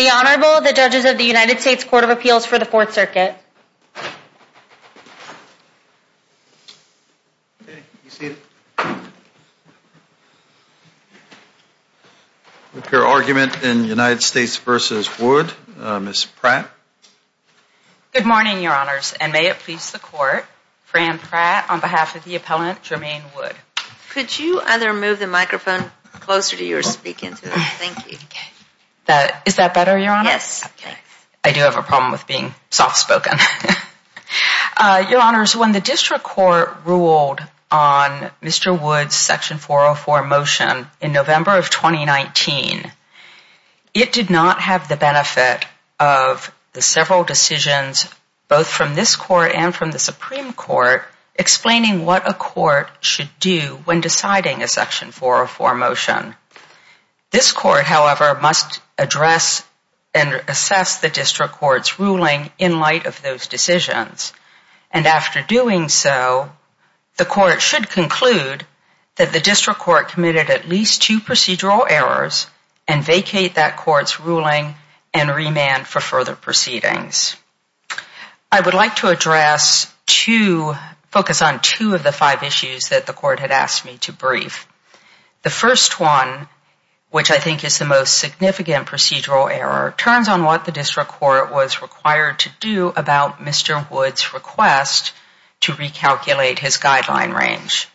Good morning Your Honors, and may it please the Court, Fran Pratt on behalf of the Appellant Jermaine Wood. Could you either move the microphone closer to you or speak into it? Thank you. Fran Pratt Is that better, Your Honor? Jermaine Wood Yes. Fran Pratt I do have a problem with being soft spoken. Your Honors, when the District Court ruled on Mr. Wood's Section 404 motion in November of 2019, it did not have the benefit of the several decisions both from this Court and from the Supreme Court explaining what a court should do when deciding a Section 404 motion. This Court, however, must address and assess the District Court's ruling in light of those decisions. And after doing so, the Court should conclude that the District Court committed at least two procedural errors and vacate that Court's ruling and remand for further proceedings. I would like to address two, focus on two of the five issues that the Court had asked me to brief. The first one, which I think is the most significant procedural error, turns on what the District Court was required to do about Mr. Wood's request to recalculate his guideline range.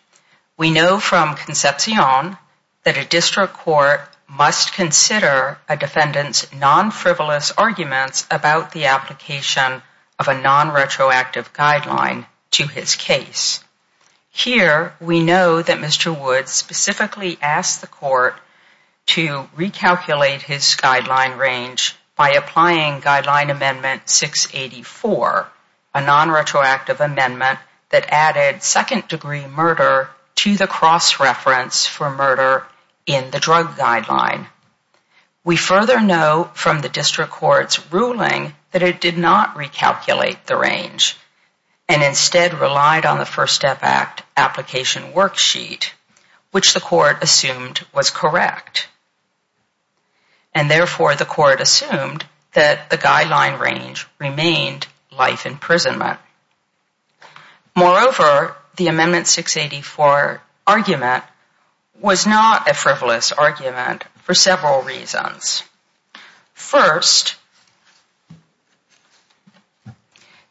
We know from Concepcion that a District Court must consider a defendant's non-frivolous arguments about the application of a non-retroactive guideline to his case. Here we know that Mr. Wood specifically asked the Court to recalculate his guideline range by applying Guideline Amendment 684, a non-retroactive amendment that added second degree murder to the cross-reference for murder in the drug guideline. We further know from the District Court's ruling that it did not recalculate the range and instead relied on the First Step Act application worksheet, which the Court assumed was correct. And therefore, the Court assumed that the guideline range remained life imprisonment. Moreover, the Amendment 684 argument was not a frivolous argument for several reasons. First,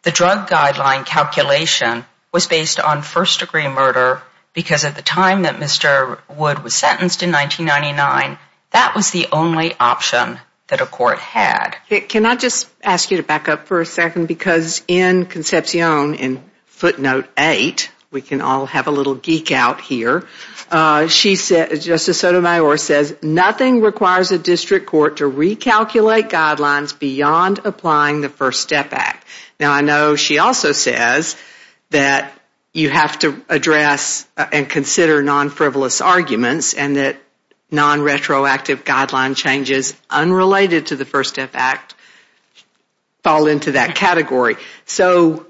the drug guideline calculation was based on first degree murder because at the time that Mr. Wood was sentenced in 1999, that was the only option that a Court had. Can I just ask you to back up for a second? Because in Concepcion, in footnote 8, we can all have a little geek out here, Justice Sotomayor says nothing requires a District Court to recalculate guidelines beyond applying the First Step Act. Now, I know she also says that you have to address and consider non-frivolous arguments and that non-retroactive guideline changes unrelated to the First Step Act fall into that category. So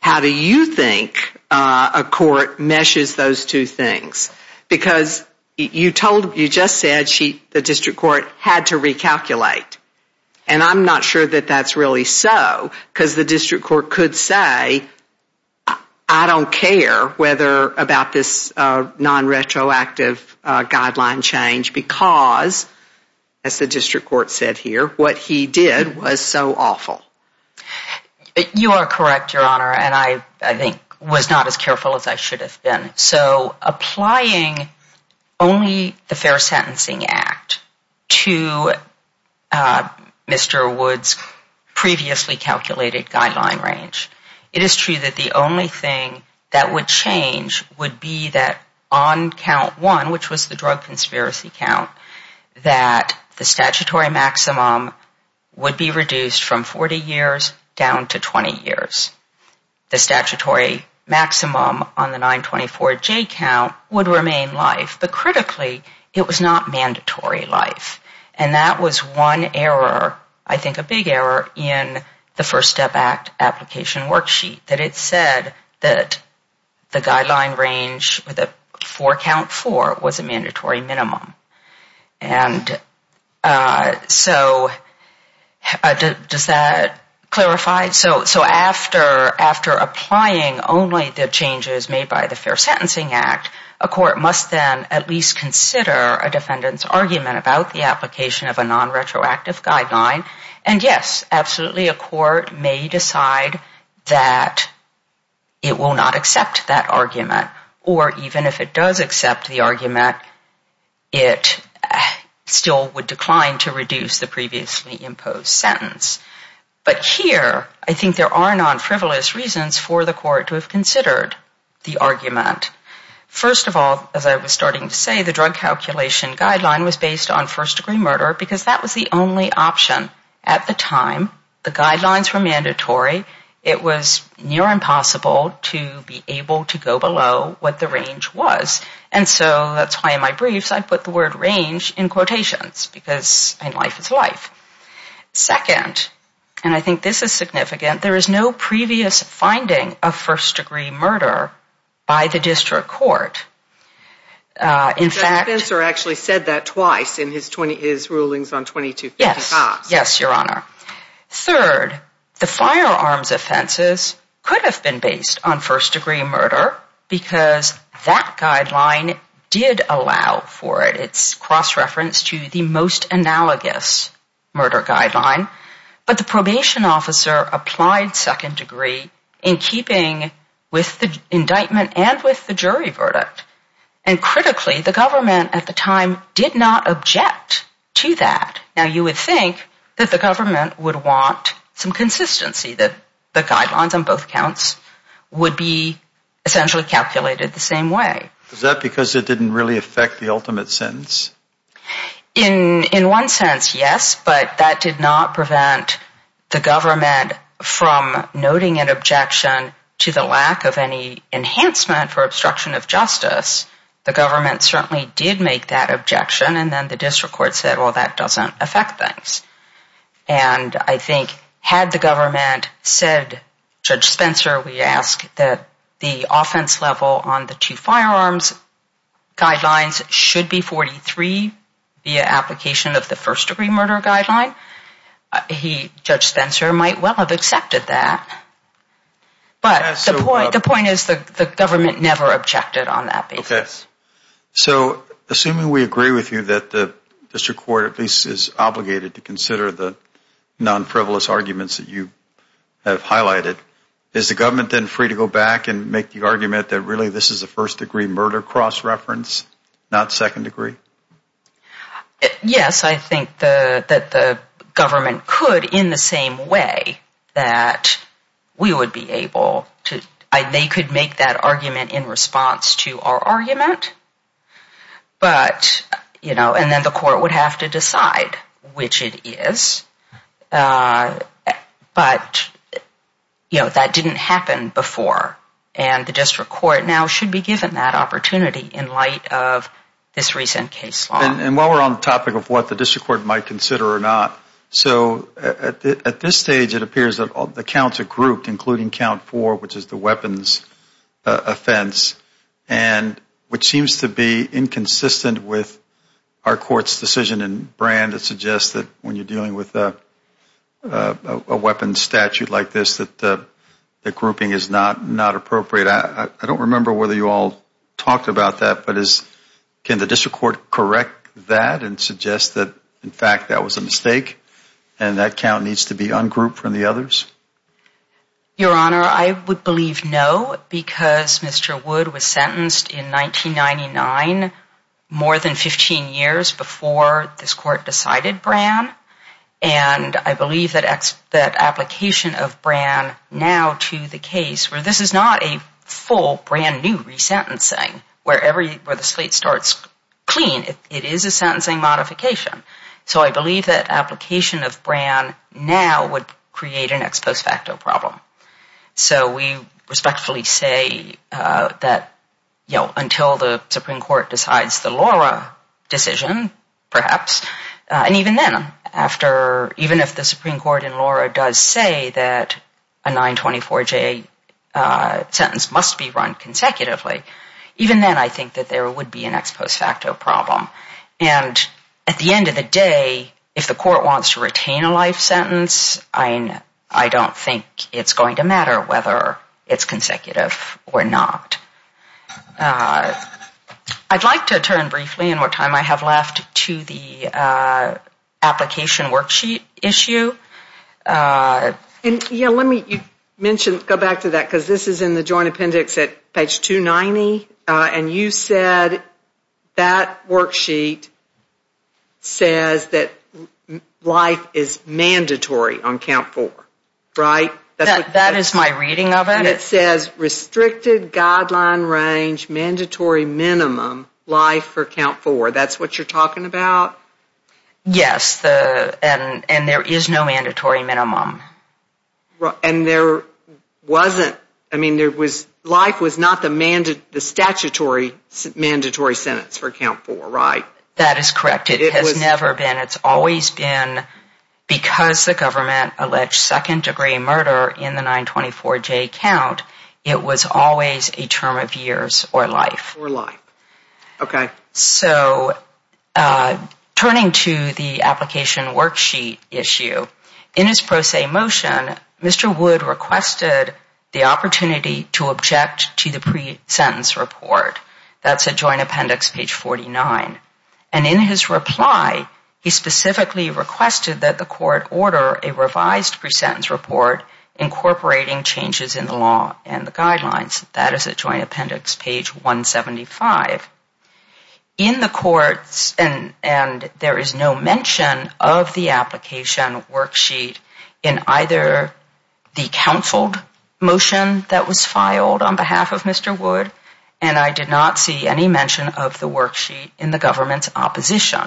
how do you think a Court meshes those two things? Because you just said the District Court had to recalculate and I'm not sure that that's really so because the District Court could say, I don't care about this non-retroactive guideline change because, as the District Court said here, what he did was so awful. You are correct, Your Honor, and I think was not as careful as I should have been. So applying only the Fair Sentencing Act to Mr. Wood's previously calculated guideline range, it would be that on count 1, which was the drug conspiracy count, that the statutory maximum would be reduced from 40 years down to 20 years. The statutory maximum on the 924J count would remain life, but critically, it was not mandatory life. And that was one error, I think a big error, in the First Step Act application worksheet, that it said that the guideline range for count 4 was a mandatory minimum. And so does that clarify? So after applying only the changes made by the Fair Sentencing Act, a Court must then at least consider whether or not to apply the guideline. And yes, absolutely, a Court may decide that it will not accept that argument, or even if it does accept the argument, it still would decline to reduce the previously imposed sentence. But here, I think there are non-frivolous reasons for the Court to have considered the argument. First of all, as I was starting to say, the drug calculation guideline was based on first degree murder, because that was the only option at the time. The guidelines were mandatory. It was near impossible to be able to go below what the range was. And so that's why in my briefs I put the word range in quotations, because life is life. Second, and I think this is significant, there is a lot of evidence to support that. The defense actually said that twice in his rulings on 2250 Cox. Yes, your Honor. Third, the firearms offenses could have been based on first degree murder, because that guideline did allow for it. It's cross-referenced to the most analogous murder guideline. But the probation officer applied second degree in keeping with the guidelines. And so, I think the government at the time did not object to that. Now, you would think that the government would want some consistency, that the guidelines on both counts would be essentially calculated the same way. Is that because it didn't really affect the ultimate sentence? In one sense, yes, but that did not prevent the government from noting an objection to the lack of any enhancement for obstruction of justice. The government certainly did make that objection, and then the district court said, well, that doesn't affect things. And I think had the government said, Judge Spencer, we ask that the offense level on the two firearms guidelines should be 43 via application of the first degree murder guideline, he, Judge Spencer, might well have accepted that. But the point is the government never objected on that basis. Okay. So, assuming we agree with you that the district court at least is obligated to consider the non-frivolous arguments that you have highlighted, is the government then free to go back and make the argument that really this is a first degree murder cross-reference, not second degree? Yes, I think that the government could in the same way that we would be able to, they could make that argument in response to our argument, but, you know, and then the court would have to decide which it is. But, you know, that didn't happen before. And the district court now should be given that opportunity in light of this recent case law. And while we're on the topic of what the district court might consider or not, so at this stage it appears that the counts are grouped, including count four, which is the weapons offense, and which seems to be inconsistent with our court's decision in Brand that suggests that when you're dealing with a weapons statute like this, that the grouping is not appropriate. I don't remember whether you all talked about that, but can the district court correct that and suggest that in fact that was a mistake and that count needs to be ungrouped from the others? Your Honor, I would believe no because Mr. Wood was sentenced in 1999, more than 15 years before this court decided Brand and I believe that application of Brand now to the case, where this is not a full brand new resentencing, where the slate starts clean, it is a sentencing modification. So I believe that application of Brand now would create an ex post facto problem. So we respectfully say that, you know, until the Supreme Court decides the Laura decision, perhaps, and even then after, even if the Supreme Court in Laura does say that a 924J sentence must be run consecutively, even then I think that there would be an ex post facto problem. And at the end of the day, if the court wants to retain a life sentence, I don't think it's going to matter whether it's consecutive or not. I'd like to turn briefly in what time I have left to the application worksheet issue. And, you know, let me mention, go back to that, because this is in the joint appendix at page 290, and you said that worksheet says that life is mandatory on count 4, right? That is my reading of it. And it says restricted guideline range, mandatory minimum life for count 4. That's what you're talking about? Yes. And there is no mandatory minimum. And there wasn't, I mean, there was, life was not the statutory mandatory sentence for count 4, right? That is correct. It has never been. It's always been, because the government alleged second degree murder in the 924J count, it was always a term of years or life. Okay. So turning to the application worksheet issue, in his pro se motion, Mr. Wood requested the opportunity to object to the pre-sentence report. That's at joint appendix page 49. And in his reply, he specifically requested that the court order a revised pre-sentence report incorporating changes in the law and the guidelines. That is at joint appendix page 175. In the courts, and there is no mention of the application worksheet in either the counseled motion that was filed on behalf of Mr. Wood, and I did not see any mention of the worksheet in the government's opposition.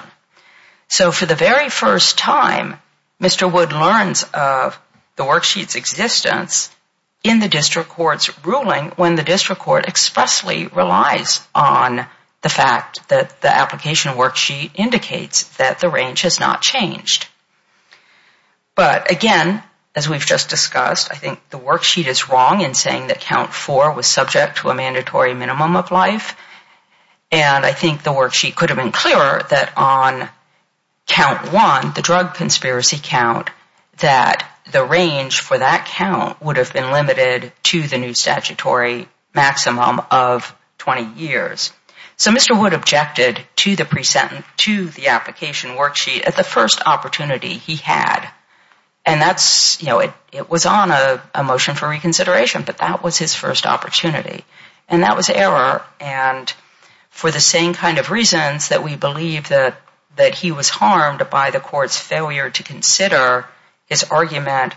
So for the very first time, Mr. Wood learns of the worksheet's existence in the district court's ruling when the district court expressly relies on the fact that the application worksheet indicates that the range has not changed. But again, as we've just discussed, I think the worksheet is wrong in saying that count 4 was subject to a mandatory minimum of life. And I think the worksheet could have been clearer that on count 1, the drug conspiracy count, that the range for that count would have been limited to the new statutory maximum of 20 years. So Mr. Wood objected to the pre-sentence, to the application worksheet at the first opportunity he had. And that's, you know, it was on a motion for reconsideration, but that was his first opportunity. And that was error. And for the same kind of reasons that we believe that he was harmed by the court's failure to consider his argument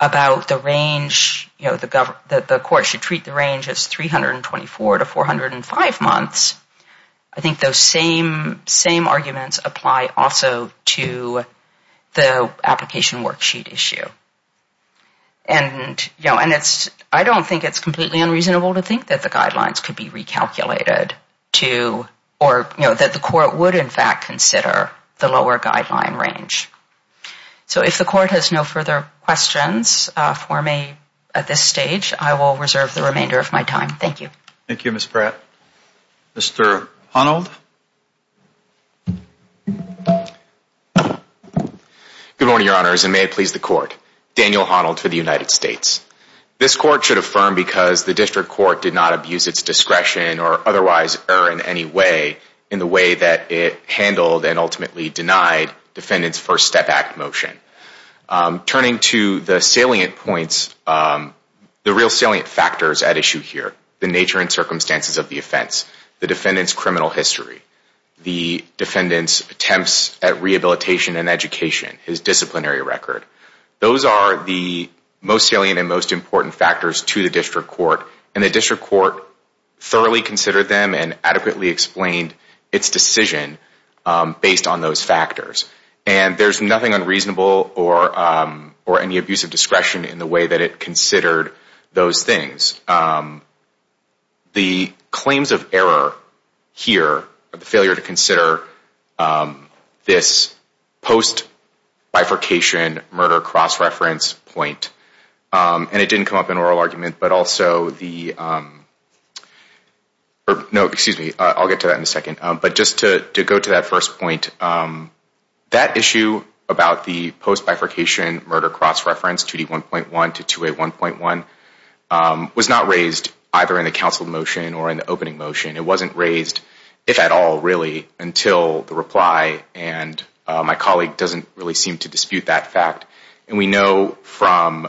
about the range, you know, the court should treat the range as 324 to 405 months, I think those same arguments apply also to the application worksheet issue. And I don't think it's completely unreasonable to think that the guidelines could be recalculated to or, you know, that the court would, in fact, consider the lower guideline range. So if the court has no further questions for me at this stage, I will reserve the remainder of my time. Thank you. Thank you, Ms. Pratt. Mr. Honnold? Good morning, Your Honors, and may it please the court. Daniel Honnold for the United States. This court should affirm because the district court did not abuse its discretion or otherwise err in any way in the way that it handled and ultimately denied Defendant's First Step Act motion. Turning to the salient points, the real salient factors at issue here, the nature and circumstances of the offense, the defendant's criminal history, the defendant's attempts at rehabilitation and education, his disciplinary record, those are the most salient and most important factors to the district court. And the district court thoroughly considered them and adequately explained its decision based on those factors. And there's nothing unreasonable or any abuse of discretion in the way that it considered those things. The claims of error here, the failure to consider this post-bifurcation murder cross-reference point, and it didn't come up in oral argument, but also the, no, excuse me, I'll get to that in a second, but just to go to that first point, that issue about the post-bifurcation murder cross-reference, 2D1.1 to 2A1.1, was not raised either in the counsel motion or in the opening motion. It wasn't raised, if at all, really, until the reply and my colleague doesn't really seem to dispute that fact. And we know from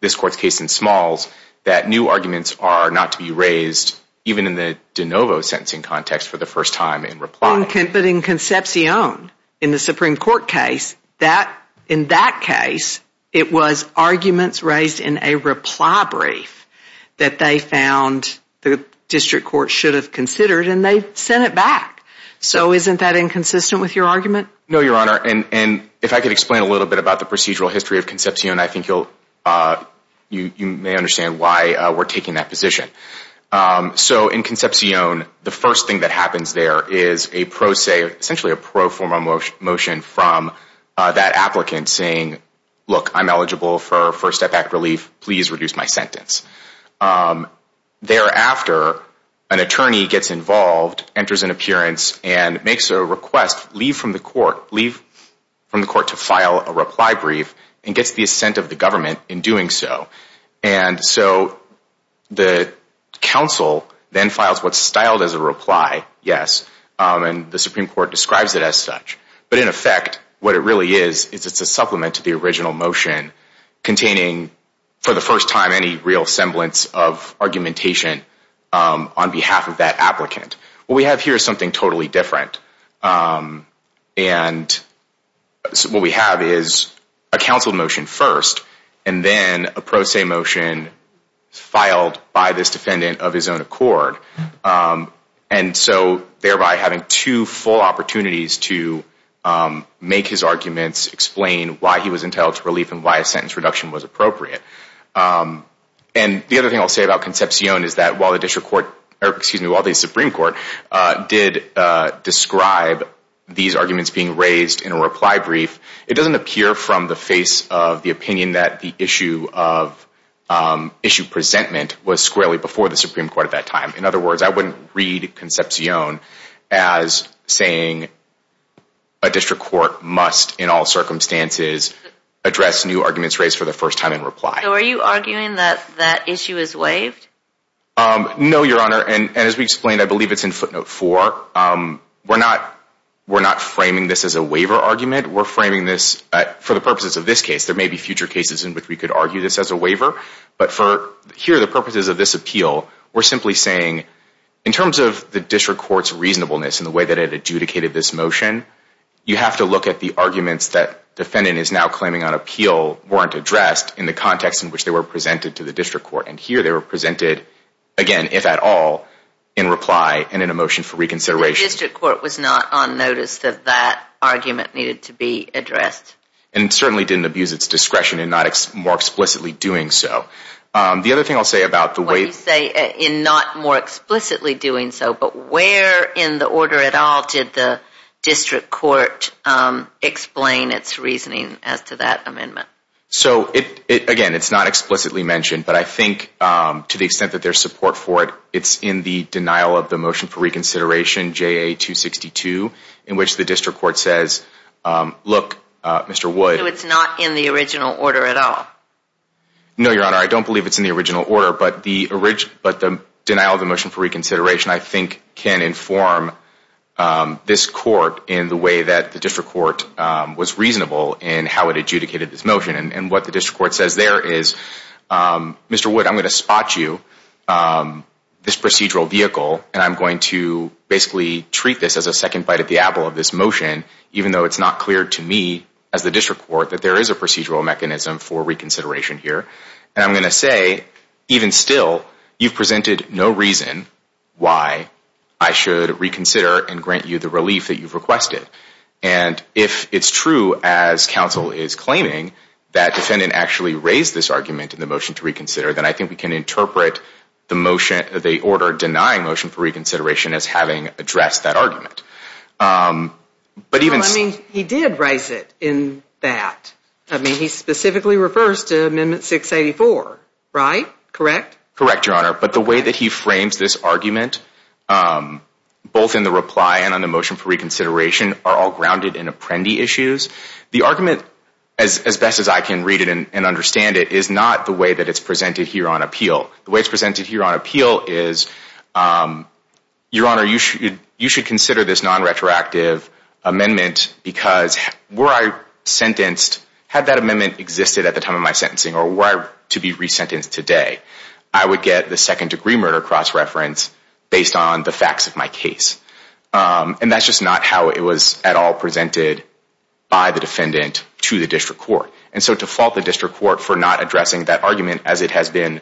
this court's case in Smalls that new arguments are not to be raised even in the de novo sentencing context for the first time in reply. But in Concepcion, in the Supreme Court case, in that case, it was arguments raised in a reply brief that they found the district court should have considered and they sent it back. So isn't that inconsistent with your argument? No, Your Honor, and if I could explain a little bit about the procedural history of Concepcion, I think you'll, you may understand why we're taking that position. So in Concepcion, the first thing that happens there is a pro se, essentially a pro forma motion from that applicant saying, look, I'm eligible for First Step Act relief, please reduce my sentence. Thereafter, an attorney gets involved, enters an appearance, and makes a request, leave from the court, leave from the court to file a reply brief and gets the assent of the government in doing so. And so the counsel then files what's styled as a reply, yes, and the Supreme Court describes it as such. But in effect, what it really is, is it's a supplement to the original motion containing, for the first time, any real semblance of argumentation on behalf of that applicant. What we have here is something totally different. And what we have is a counsel motion first and then a pro se motion filed by this defendant of his own accord. And so thereby having two full opportunities to make his arguments, explain why he was entitled to relief and why a sentence reduction was appropriate. And the other thing I'll say about Concepcion is that while the Supreme Court did describe these arguments being raised in a reply brief, it doesn't appear from the face of the opinion that the issue of issue presentment was squarely before the Supreme Court at that time. In other words, I wouldn't read Concepcion as saying a district court must, in all circumstances, address new arguments raised for the first time in reply. So are you arguing that that issue is waived? No, Your Honor. And as we explained, I believe it's in footnote four. We're not framing this as a waiver argument. We're framing this for the purposes of this case. There may be future cases in which we could argue this as a waiver. But for here, the purposes of this appeal, we're simply saying in terms of the district court's reasonableness in the way that it adjudicated this motion, you have to look at the arguments that defendant is now claiming on appeal weren't addressed in the context in which they were presented to the district court. And here they were presented, again, if at all, in reply and in a motion for reconsideration. The district court was not on notice that that argument needed to be addressed. And certainly didn't abuse its discretion in not more explicitly doing so. The other thing I'll say about the waiver... What do you say in not more explicitly doing so, but where in the order at all did the district court explain its reasoning as to that amendment? So again, it's not explicitly mentioned, but I think to the extent that there's support for it, it's in the denial of the motion for reconsideration, JA 262, in which the district court says, look, Mr. Wood... So it's not in the original order at all? No, Your Honor, I don't believe it's in the original order, but the denial of the motion for reconsideration, I think, can inform this court in the way that the district court was reasonable in how it adjudicated this motion. And what the district court says there is, Mr. Wood, I'm going to spot you, this procedural vehicle, and I'm going to basically treat this as a second bite at the apple of this motion, even though it's not clear to me, as the district court, that there is a procedural mechanism for reconsideration here. And I'm going to say, even still, you've presented no reason why I should reconsider and grant you the relief that you've requested. And if it's true, as counsel is claiming, that defendant actually raised this argument in the motion to reconsider, then I think we can interpret the order denying motion for reconsideration as having addressed that argument. But even... Well, I mean, he did raise it in that. I mean, he specifically refers to Amendment 684, right? Correct? Correct, Your Honor. But the way that he frames this argument, both in the reply and on the motion for reconsideration, are all grounded in apprendee issues. The argument, as best as I can read it and understand it, is not the way that it's presented here on appeal. The way it's presented here on appeal is, Your Honor, you should consider this non-retroactive amendment because were I sentenced, had that amendment existed at the time of my sentencing or were I to be resentenced today, I would get the second degree murder cross-reference based on the facts of my case. And that's just not how it was at all presented by the defendant to the district court. And so to fault the district court for not addressing that argument as it has been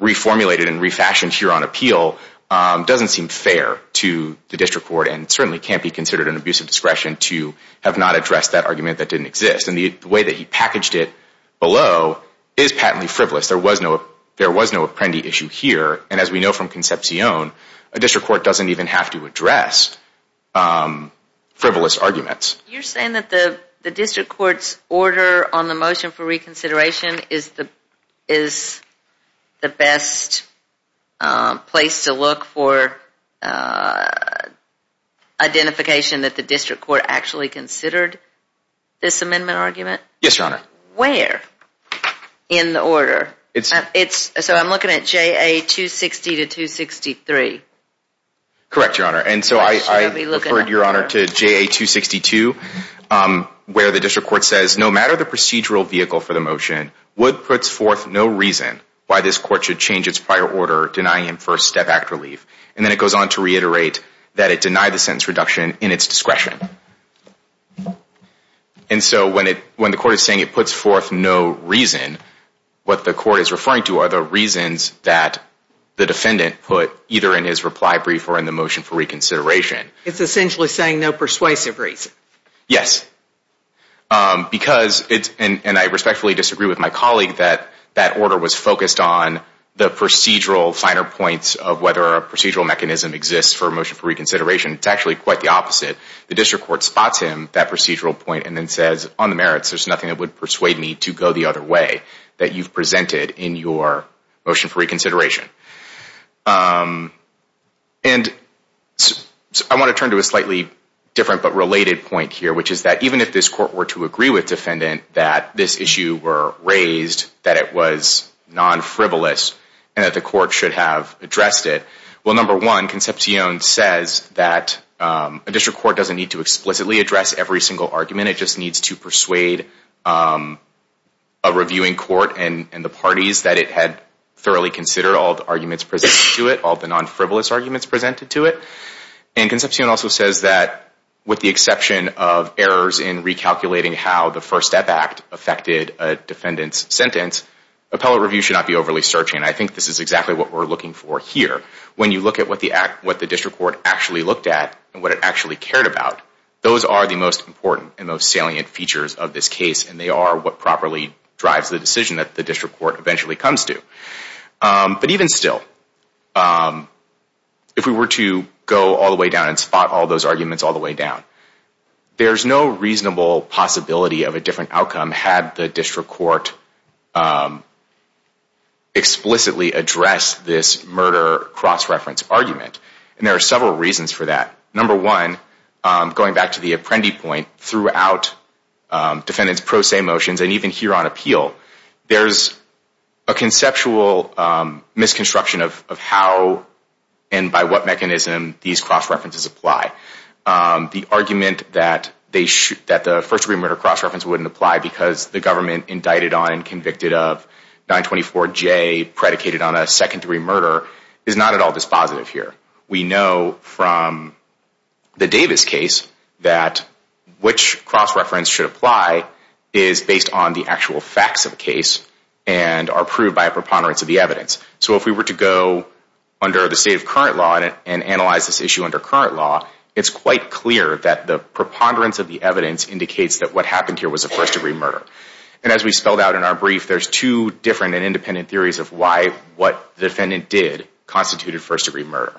reformulated and refashioned here on appeal doesn't seem fair to the district court and certainly can't be considered an abuse of discretion to have not addressed that argument that didn't exist. And the way that he packaged it below is patently frivolous. There was no apprendee issue here. And as we know from Concepcion, a district court doesn't even have to address frivolous arguments. You're saying that the district court's order on the motion for reconsideration is the best place to look for identification that the district court actually considered this amendment argument? Yes, Your Honor. Where in the order? So I'm looking at JA 260 to 263. Correct, Your Honor. And so I referred, Your Honor, to JA 262 where the district court says no matter the procedural vehicle for the motion, Wood puts forth no reason why this court should change its prior order denying him first step act relief. And then it goes on to reiterate that it denied the sentence reduction in its discretion. And so when the court is saying it puts forth no reason, what the court is referring to are the reasons that the defendant put either in his reply brief or in the motion for reconsideration. It's essentially saying no persuasive reason. Yes. Because, and I respectfully disagree with my colleague, that that order was focused on the procedural finer points of whether a procedural mechanism exists for a motion for reconsideration. It's actually quite the opposite. The district court spots him, that procedural point, and then says, on the merits, there's nothing that would persuade me to go the other way that you've presented in your motion for reconsideration. And I want to turn to a slightly different but related point here, which is that even if this court were to agree with defendant that this issue were raised, that it was non-frivolous, and that the court should have addressed it, well, number one, Concepcion says that a district court doesn't need to explicitly address every single argument. It just needs to persuade a reviewing court and the parties that it had thoroughly considered all the arguments presented to it, all the non-frivolous arguments presented to it. And Concepcion also says that with the exception of errors in recalculating how the First Step Act affected a defendant's sentence, appellate review should not be overly searching. I think this is exactly what we're looking for here. When you look at what the district court actually looked at and what it actually cared about, those are the most important and most salient features of this case, and they are what properly drives the decision that the district court eventually comes to. But even still, if we were to go all the way down and spot all those arguments all the way down, there's no reasonable possibility of a different outcome had the district court explicitly addressed this murder cross-reference argument. And there are several reasons for that. Number one, going back to the Apprendi point, throughout defendants' pro se motions and even here on appeal, there's a conceptual misconstruction of how and by what mechanism these cross-references apply. The argument that the first-degree murder cross-reference wouldn't apply because the government indicted on and convicted of 924J predicated on a second-degree murder is not at all dispositive here. We know from the Davis case that which cross-reference should apply is based on the actual facts of the case and are proved by a preponderance of the evidence. So if we were to go under the state of current law and analyze this issue under current law, it's quite clear that the preponderance of the evidence indicates that what happened here was a first-degree murder. And as we spelled out in our brief, there's two different and independent theories of why what the defendant did constituted first-degree murder.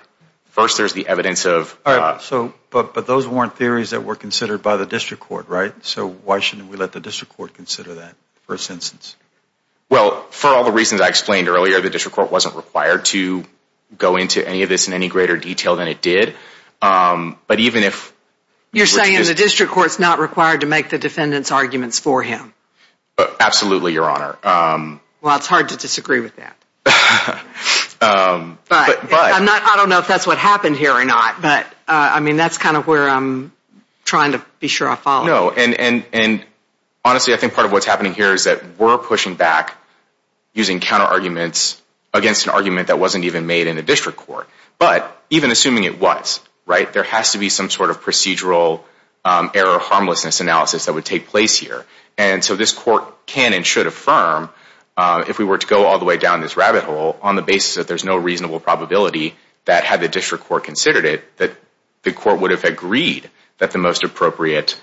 First, there's the evidence of... But those weren't theories that were considered by the district court, right? So why shouldn't we let the district court consider that first instance? Well, for all the reasons I explained earlier, the district court wasn't required to go into any of this in any greater detail than it did. But even if... You're saying the district court's not required to make the defendant's arguments for him? Absolutely, Your Honor. Well, it's hard to disagree with that. But... I don't know if that's what happened here or not, but that's kind of where I'm trying to be sure I follow. No, and honestly, I think part of what's happening here is that we're pushing back using counter-arguments against an argument that wasn't even made in the district court. But even assuming it was, right, there has to be some sort of procedural error-harmlessness analysis that would take place here. And so this court can and should affirm, if we were to go all the way down this rabbit hole, on the basis that there's no reasonable probability that had the district court considered it, that the court would have agreed that the most appropriate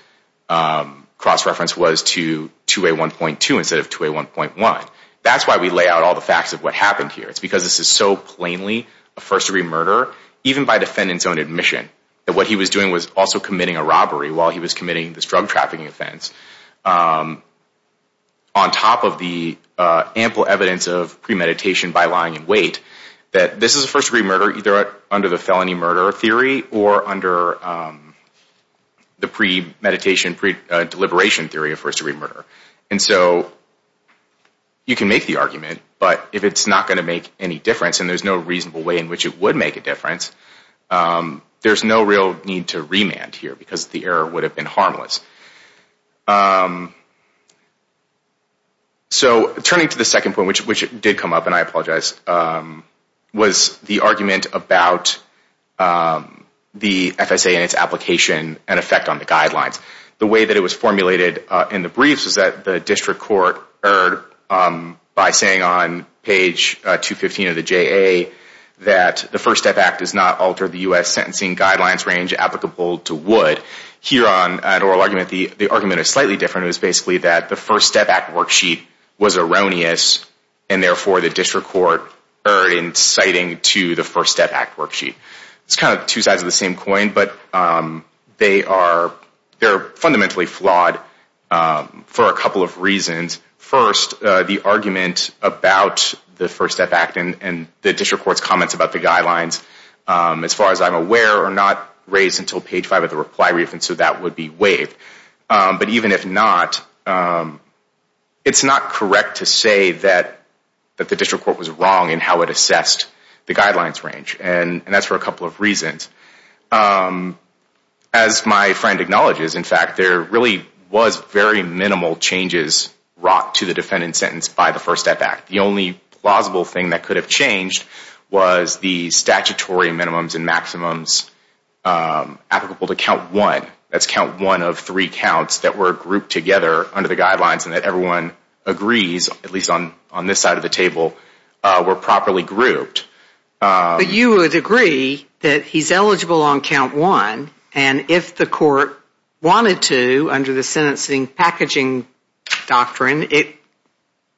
cross-reference was to 2A1.2 instead of 2A1.1. That's why we lay out all the facts of what happened here. It's because this is so plainly a first-degree murder, even by defendant's own admission, that what he was doing was also committing a robbery while he was committing this drug-trafficking offense, on top of the ample evidence of premeditation by lying in wait, that this is a first-degree murder, either under the felony murder theory or under the premeditation, pre-deliberation theory of first-degree murder. And so you can make the argument, but if it's not going to make any difference and there's no reasonable way in which it would make a difference, there's no real need to remand here because the error would have been harmless. So turning to the second point, which did come up, and I apologize, was the argument about the FSA and its application and effect on the guidelines. The way that it was formulated in the briefs is that the district court erred by saying on page 215 of the JA that the First Step Act does not alter the U.S. sentencing guidelines range applicable to Wood. Here on an oral argument, the argument is slightly different. It was basically that the First Step Act worksheet was erroneous, and therefore the district court erred in citing to the First Step Act worksheet. It's kind of two sides of the same coin, but they are fundamentally flawed for a couple of reasons. First, the argument about the First Step Act and the district court's comments about the guidelines, as far as I'm aware, are not raised until page 5 of the reply brief, and so that would be waived. But even if not, it's not correct to say that the district court was wrong in how it assessed the guidelines range, and that's for a couple of reasons. As my friend acknowledges, in fact, there really was very minimal changes brought to the defendant's sentence by the First Step Act. The only plausible thing that could have changed was the statutory minimums and maximums applicable to count one. That's count one of three counts that were grouped together under the guidelines and that everyone agrees, at least on this side of the table, were properly grouped. You would agree that he's eligible on count one, and if the court wanted to, under the sentencing packaging doctrine, it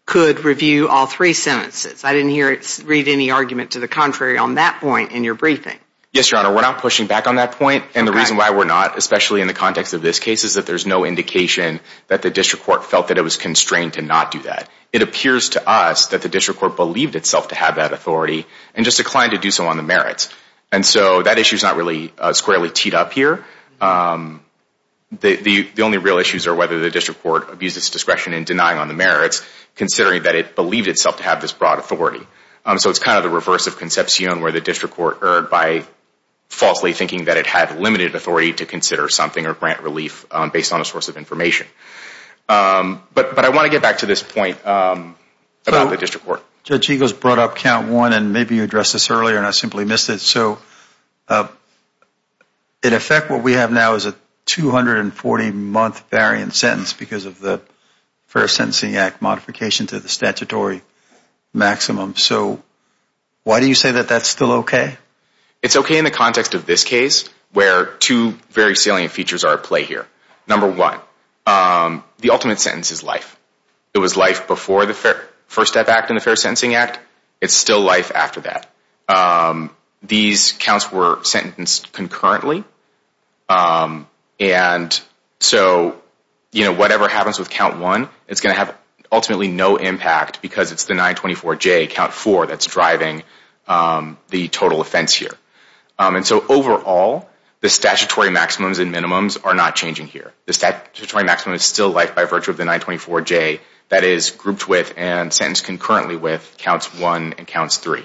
could review all three sentences. I didn't hear it read any argument to the contrary on that point in your briefing. Yes, Your Honor, we're not pushing back on that point, and the reason why we're not, especially in the context of this case, is that there's no indication that the district court felt that it was constrained to not do that. It appears to us that the district court believed itself to have that authority and just declined to do so on the merits. And so that issue's not really squarely teed up here. The only real issues are whether the district court abused its discretion in denying on the merits, considering that it believed itself to have this broad authority. So it's kind of the reverse of conception where the district court erred by falsely thinking that it had limited authority to But I want to get back to this point about the district court. Judge Eagles brought up count one, and maybe you addressed this earlier, and I simply missed it. So in effect, what we have now is a 240-month variant sentence because of the First Sentencing Act modification to the statutory maximum. So why do you say that that's still okay? It's okay in the context of this case, where two very salient features are at play here. Number one, the ultimate sentence is life. It was life before the First Step Act and the Fair Sentencing Act. It's still life after that. These counts were sentenced concurrently. And so, you know, whatever happens with count one, it's going to have ultimately no impact because it's the 924J, count four, that's driving the total offense here. And so overall, the statutory maximums and minimums are not changing here. The statutory maximum is still life by virtue of the 924J that is grouped with and sentenced concurrently with counts one and counts three.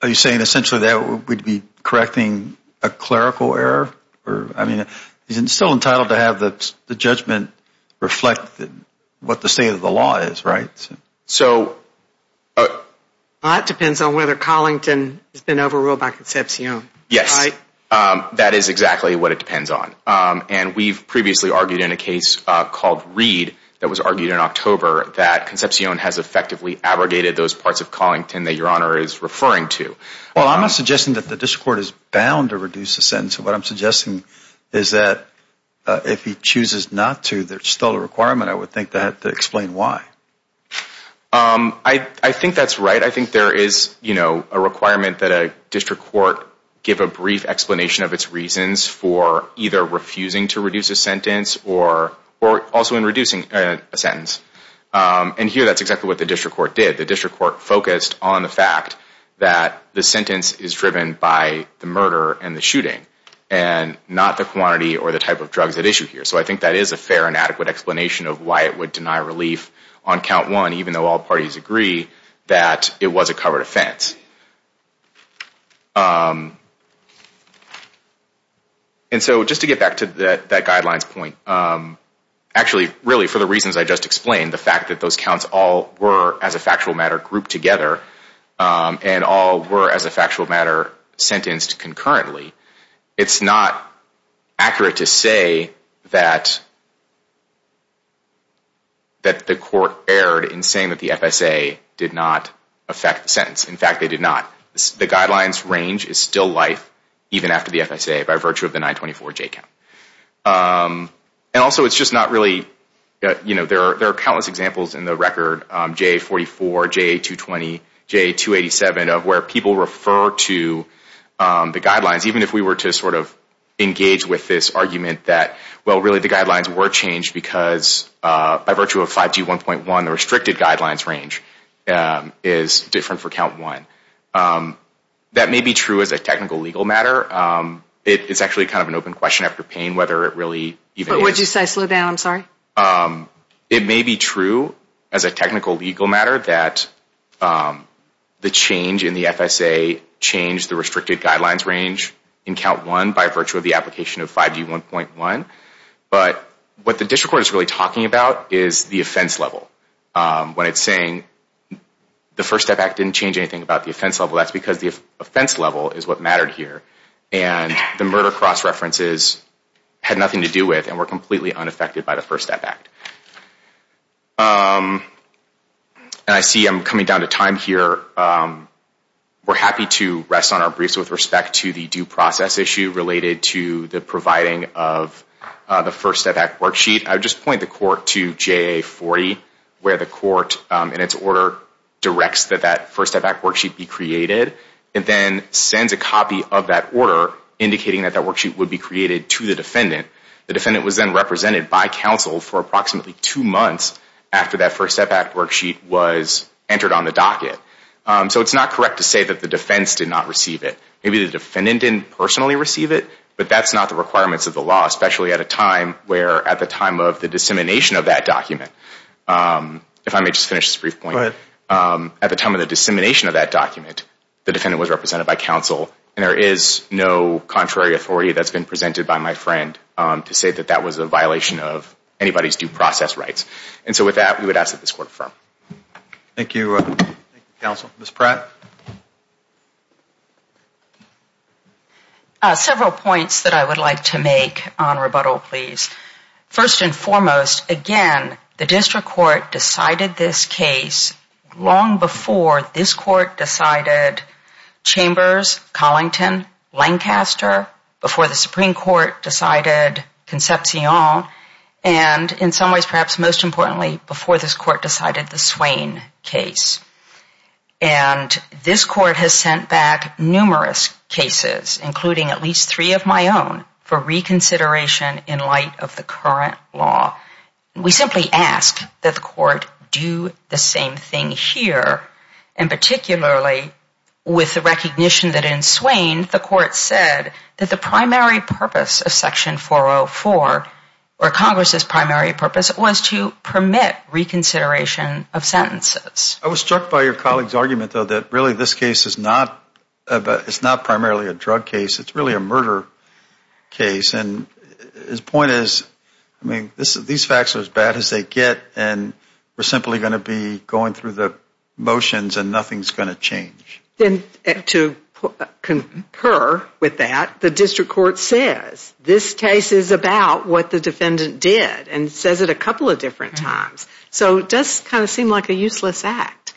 Are you saying essentially that we'd be correcting a clerical error? I mean, he's still entitled to have the judgment reflect what the state of the law is, right? So that depends on whether Collington has been overruled by Concepcion. Yes, that is exactly what it depends on. And we've previously argued in a case called Reed that was argued in October that Concepcion has effectively abrogated those parts of Collington that Your Honor is referring to. Well, I'm not suggesting that the district court is bound to reduce the sentence. What I'm suggesting is that if he chooses not to, there's still a requirement, I would think, that would explain why. I think that's right. I think there is a requirement that a district court give a brief explanation of its reasons for either refusing to reduce a sentence or also in reducing a sentence. And here that's exactly what the district court did. The district court focused on the fact that the sentence is driven by the murder and the shooting and not the quantity or the type of drugs at issue here. So I think that is a fair and adequate explanation of why it would deny relief on count one, even though all parties agree that it was a covered offense. And so just to get back to that guidelines point, actually, really for the reasons I just explained, the fact that those counts all were, as a factual matter, grouped together and all were, as a factual matter, sentenced concurrently, it's not accurate to say that the court erred in saying that the FSA did not affect the sentence. In fact, they did not. The guidelines range is still life even after the FSA by virtue of the 924J count. And also it's just not really, you know, there are countless examples in the record, JA-44, JA-220, JA-287, of where people refer to the guidelines, even if we were to sort of engage with this argument that, well, really the guidelines were changed because by virtue of 5G 1.1, the restricted guidelines range is different for count one. That may be true as a technical legal matter. It's actually kind of an open question after pain whether it really even is. But would you say slow down? I'm sorry. It may be true as a technical legal matter that the change in the FSA changed the restricted guidelines range in count one by virtue of the application of 5G 1.1. But what the district court is really talking about is the offense level. When it's saying the First Step Act didn't change anything about the offense level, that's because the offense level is what mattered here. And the murder cross-references had nothing to do with and were completely unaffected by the First Step Act. I see I'm coming down to time here. We're happy to rest on our briefs with respect to the due process issue related to the providing of the First Step Act worksheet. I would just point the court to JA40, where the court in its order directs that that First Step Act worksheet be created and then sends a copy of that order indicating that that worksheet would be created to the defendant. The defendant was then represented by counsel for approximately two months after that First Step Act worksheet was entered on the docket. So it's not correct to say that the defense did not receive it. Maybe the defendant didn't personally receive it, but that's not the requirements of the law, especially at a time where at the time of the dissemination of that document, if I may just finish this brief point, at the time of the dissemination of that document, the defendant was represented by counsel and there is no contrary authority that's been presented by my friend to say that that was a violation of anybody's due process rights. And so with that, we would ask that this court affirm. Thank you, counsel. Ms. Pratt? Several points that I would like to make on rebuttal, please. First and foremost, again, the district court decided this case long before this court decided Chambers, Collington, Lancaster, before the Supreme Court decided Concepcion, and in some ways perhaps most recently, the Supreme Court decided the Swain case. And this court has sent back numerous cases, including at least three of my own, for reconsideration in light of the current law. We simply ask that the court do the same thing here, and particularly with the recognition that in Swain, the court said that the primary purpose of Section 404, or Congress's primary purpose, was to permit reconsideration of sentences. I was struck by your colleague's argument, though, that really this case is not primarily a drug case. It's really a murder case. And his point is, I mean, these facts are as bad as they get, and we're simply going to be going through the motions and nothing's going to change. To concur with that, the district court says this case is about what the defendant did and says it a couple of different times. So it does kind of seem like a useless act.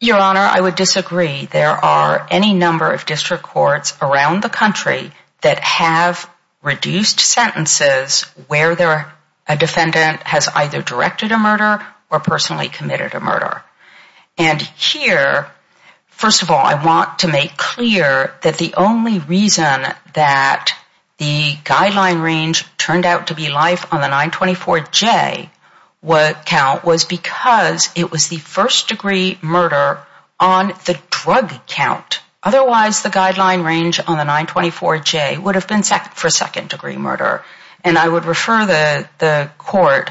Your Honor, I would disagree. There are any number of district courts around the country that have reduced sentences where a defendant has either directed a murder or personally committed a murder. And here, first of all, I want to make clear that the only reason that the guideline range turned out to be life on the 924J count was because it was the first-degree murder on the drug count. Otherwise, the guideline range on the 924J would have been for second-degree murder. And I would refer the court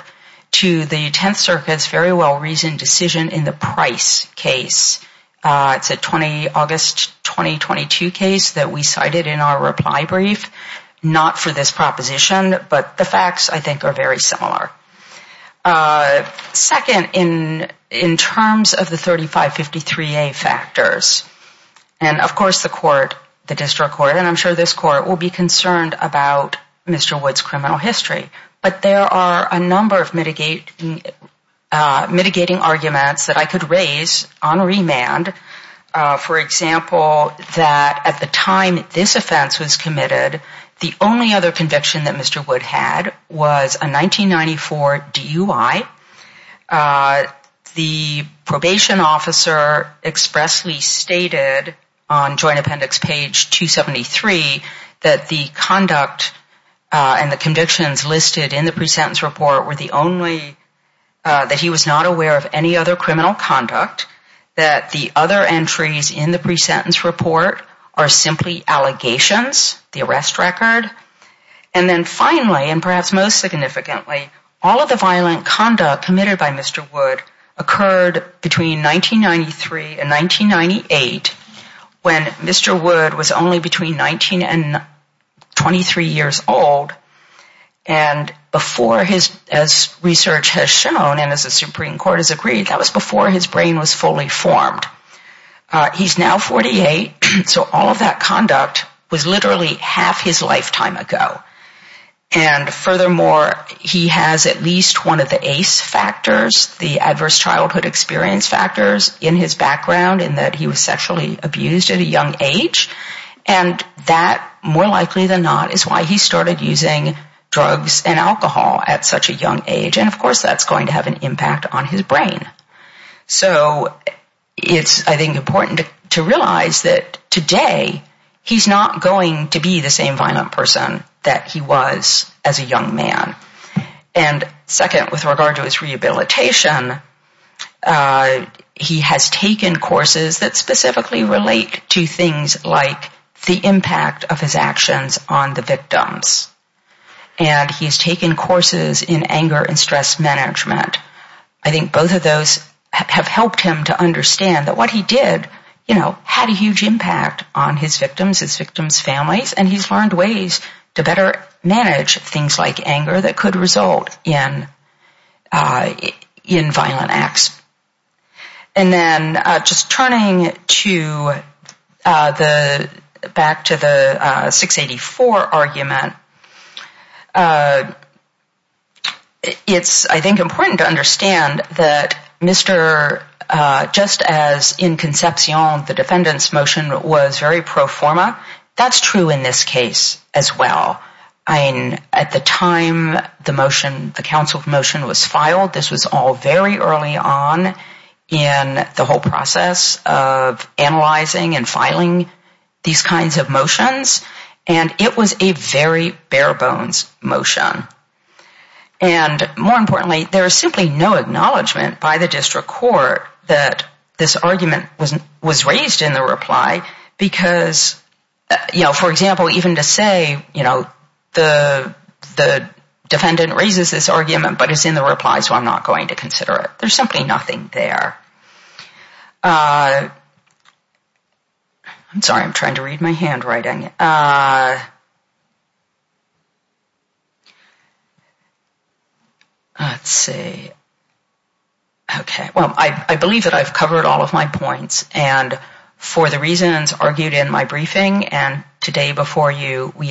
to the Tenth Circuit's very well-reasoned decision in the Price case. It's a August 2022 case that we cited in our reply brief, not for this proposition, but the facts, I think, are very similar. Second, in terms of the 3553A factors, and of course the court, the district court, and I'm sure this court will be concerned about Mr. Wood's criminal history, but there are a number of mitigating arguments that I could raise on remand. For example, that at the time this offense was committed, the only other conviction that Mr. Wood had was a 1994 DUI. The probation officer expressly stated on Joint Appendix page 273 that the conduct and the convictions listed in the pre-sentence report were the only, that he was not aware of any other criminal conduct, that the other entries in the pre-sentence report are simply allegations, the arrest record. And then finally, and perhaps most significantly, all of the violent conduct committed by Mr. Wood occurred between 1993 and 1998, when Mr. Wood was only between 19 and 23 years old, and before his, as research has shown, and as the Supreme Court has agreed, that was before his brain was fully formed. He's now 48, so all of that conduct was literally half his lifetime ago. And furthermore, he has at least one of the ACE factors, the Adverse Childhood Experience factors, in his background, in that he was sexually abused at a young age, and that, more likely than not, is why he started using drugs and alcohol at such a young age, and of course that's going to have an impact on his brain. So it's, I think, important to realize that today he's not going to be the same violent person that he was as a young man. And second, with regard to his rehabilitation, he has taken courses that specifically relate to things like the impact of his actions on the victims. And he's taken courses in anger and stress management. I think both of those have helped him to understand that what he did, you know, had a huge impact on his victims, his victims' families, and he's learned ways to better manage things like anger that could result in violent acts. And then just turning back to the 684 argument, it's, I think, important to understand that Mr. just as in Concepcion the defendant's motion was very pro forma, that's true in this case as well. I mean, at the time the motion, the counsel's motion was filed, this was all very early on in the whole process of analyzing and filing these kinds of motions, and it was a very bare bones motion. And more importantly, there is simply no acknowledgement by the district court that this argument was raised in the reply because, you know, for example, even to say, you know, the defendant raises this argument, but it's in the reply, so I'm not going to consider it. There's simply nothing there. I'm sorry. I'm trying to read my handwriting. Let's see. Okay. Well, I believe that I've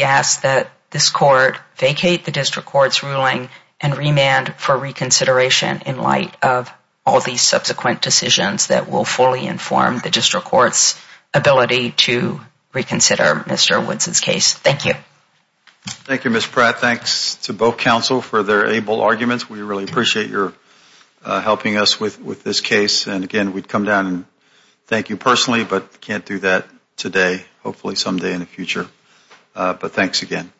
asked that this court vacate the district court's ruling and remand for reconsideration in light of all these subsequent decisions that will fully inform the district court's ability to reconsider Mr. Woods' case. Thank you. Thank you, Ms. Pratt. Thanks to both counsel for their able arguments. We really appreciate your helping us with this case, and again, we'd come down and thank you personally, but hopefully someday in the future. But thanks again.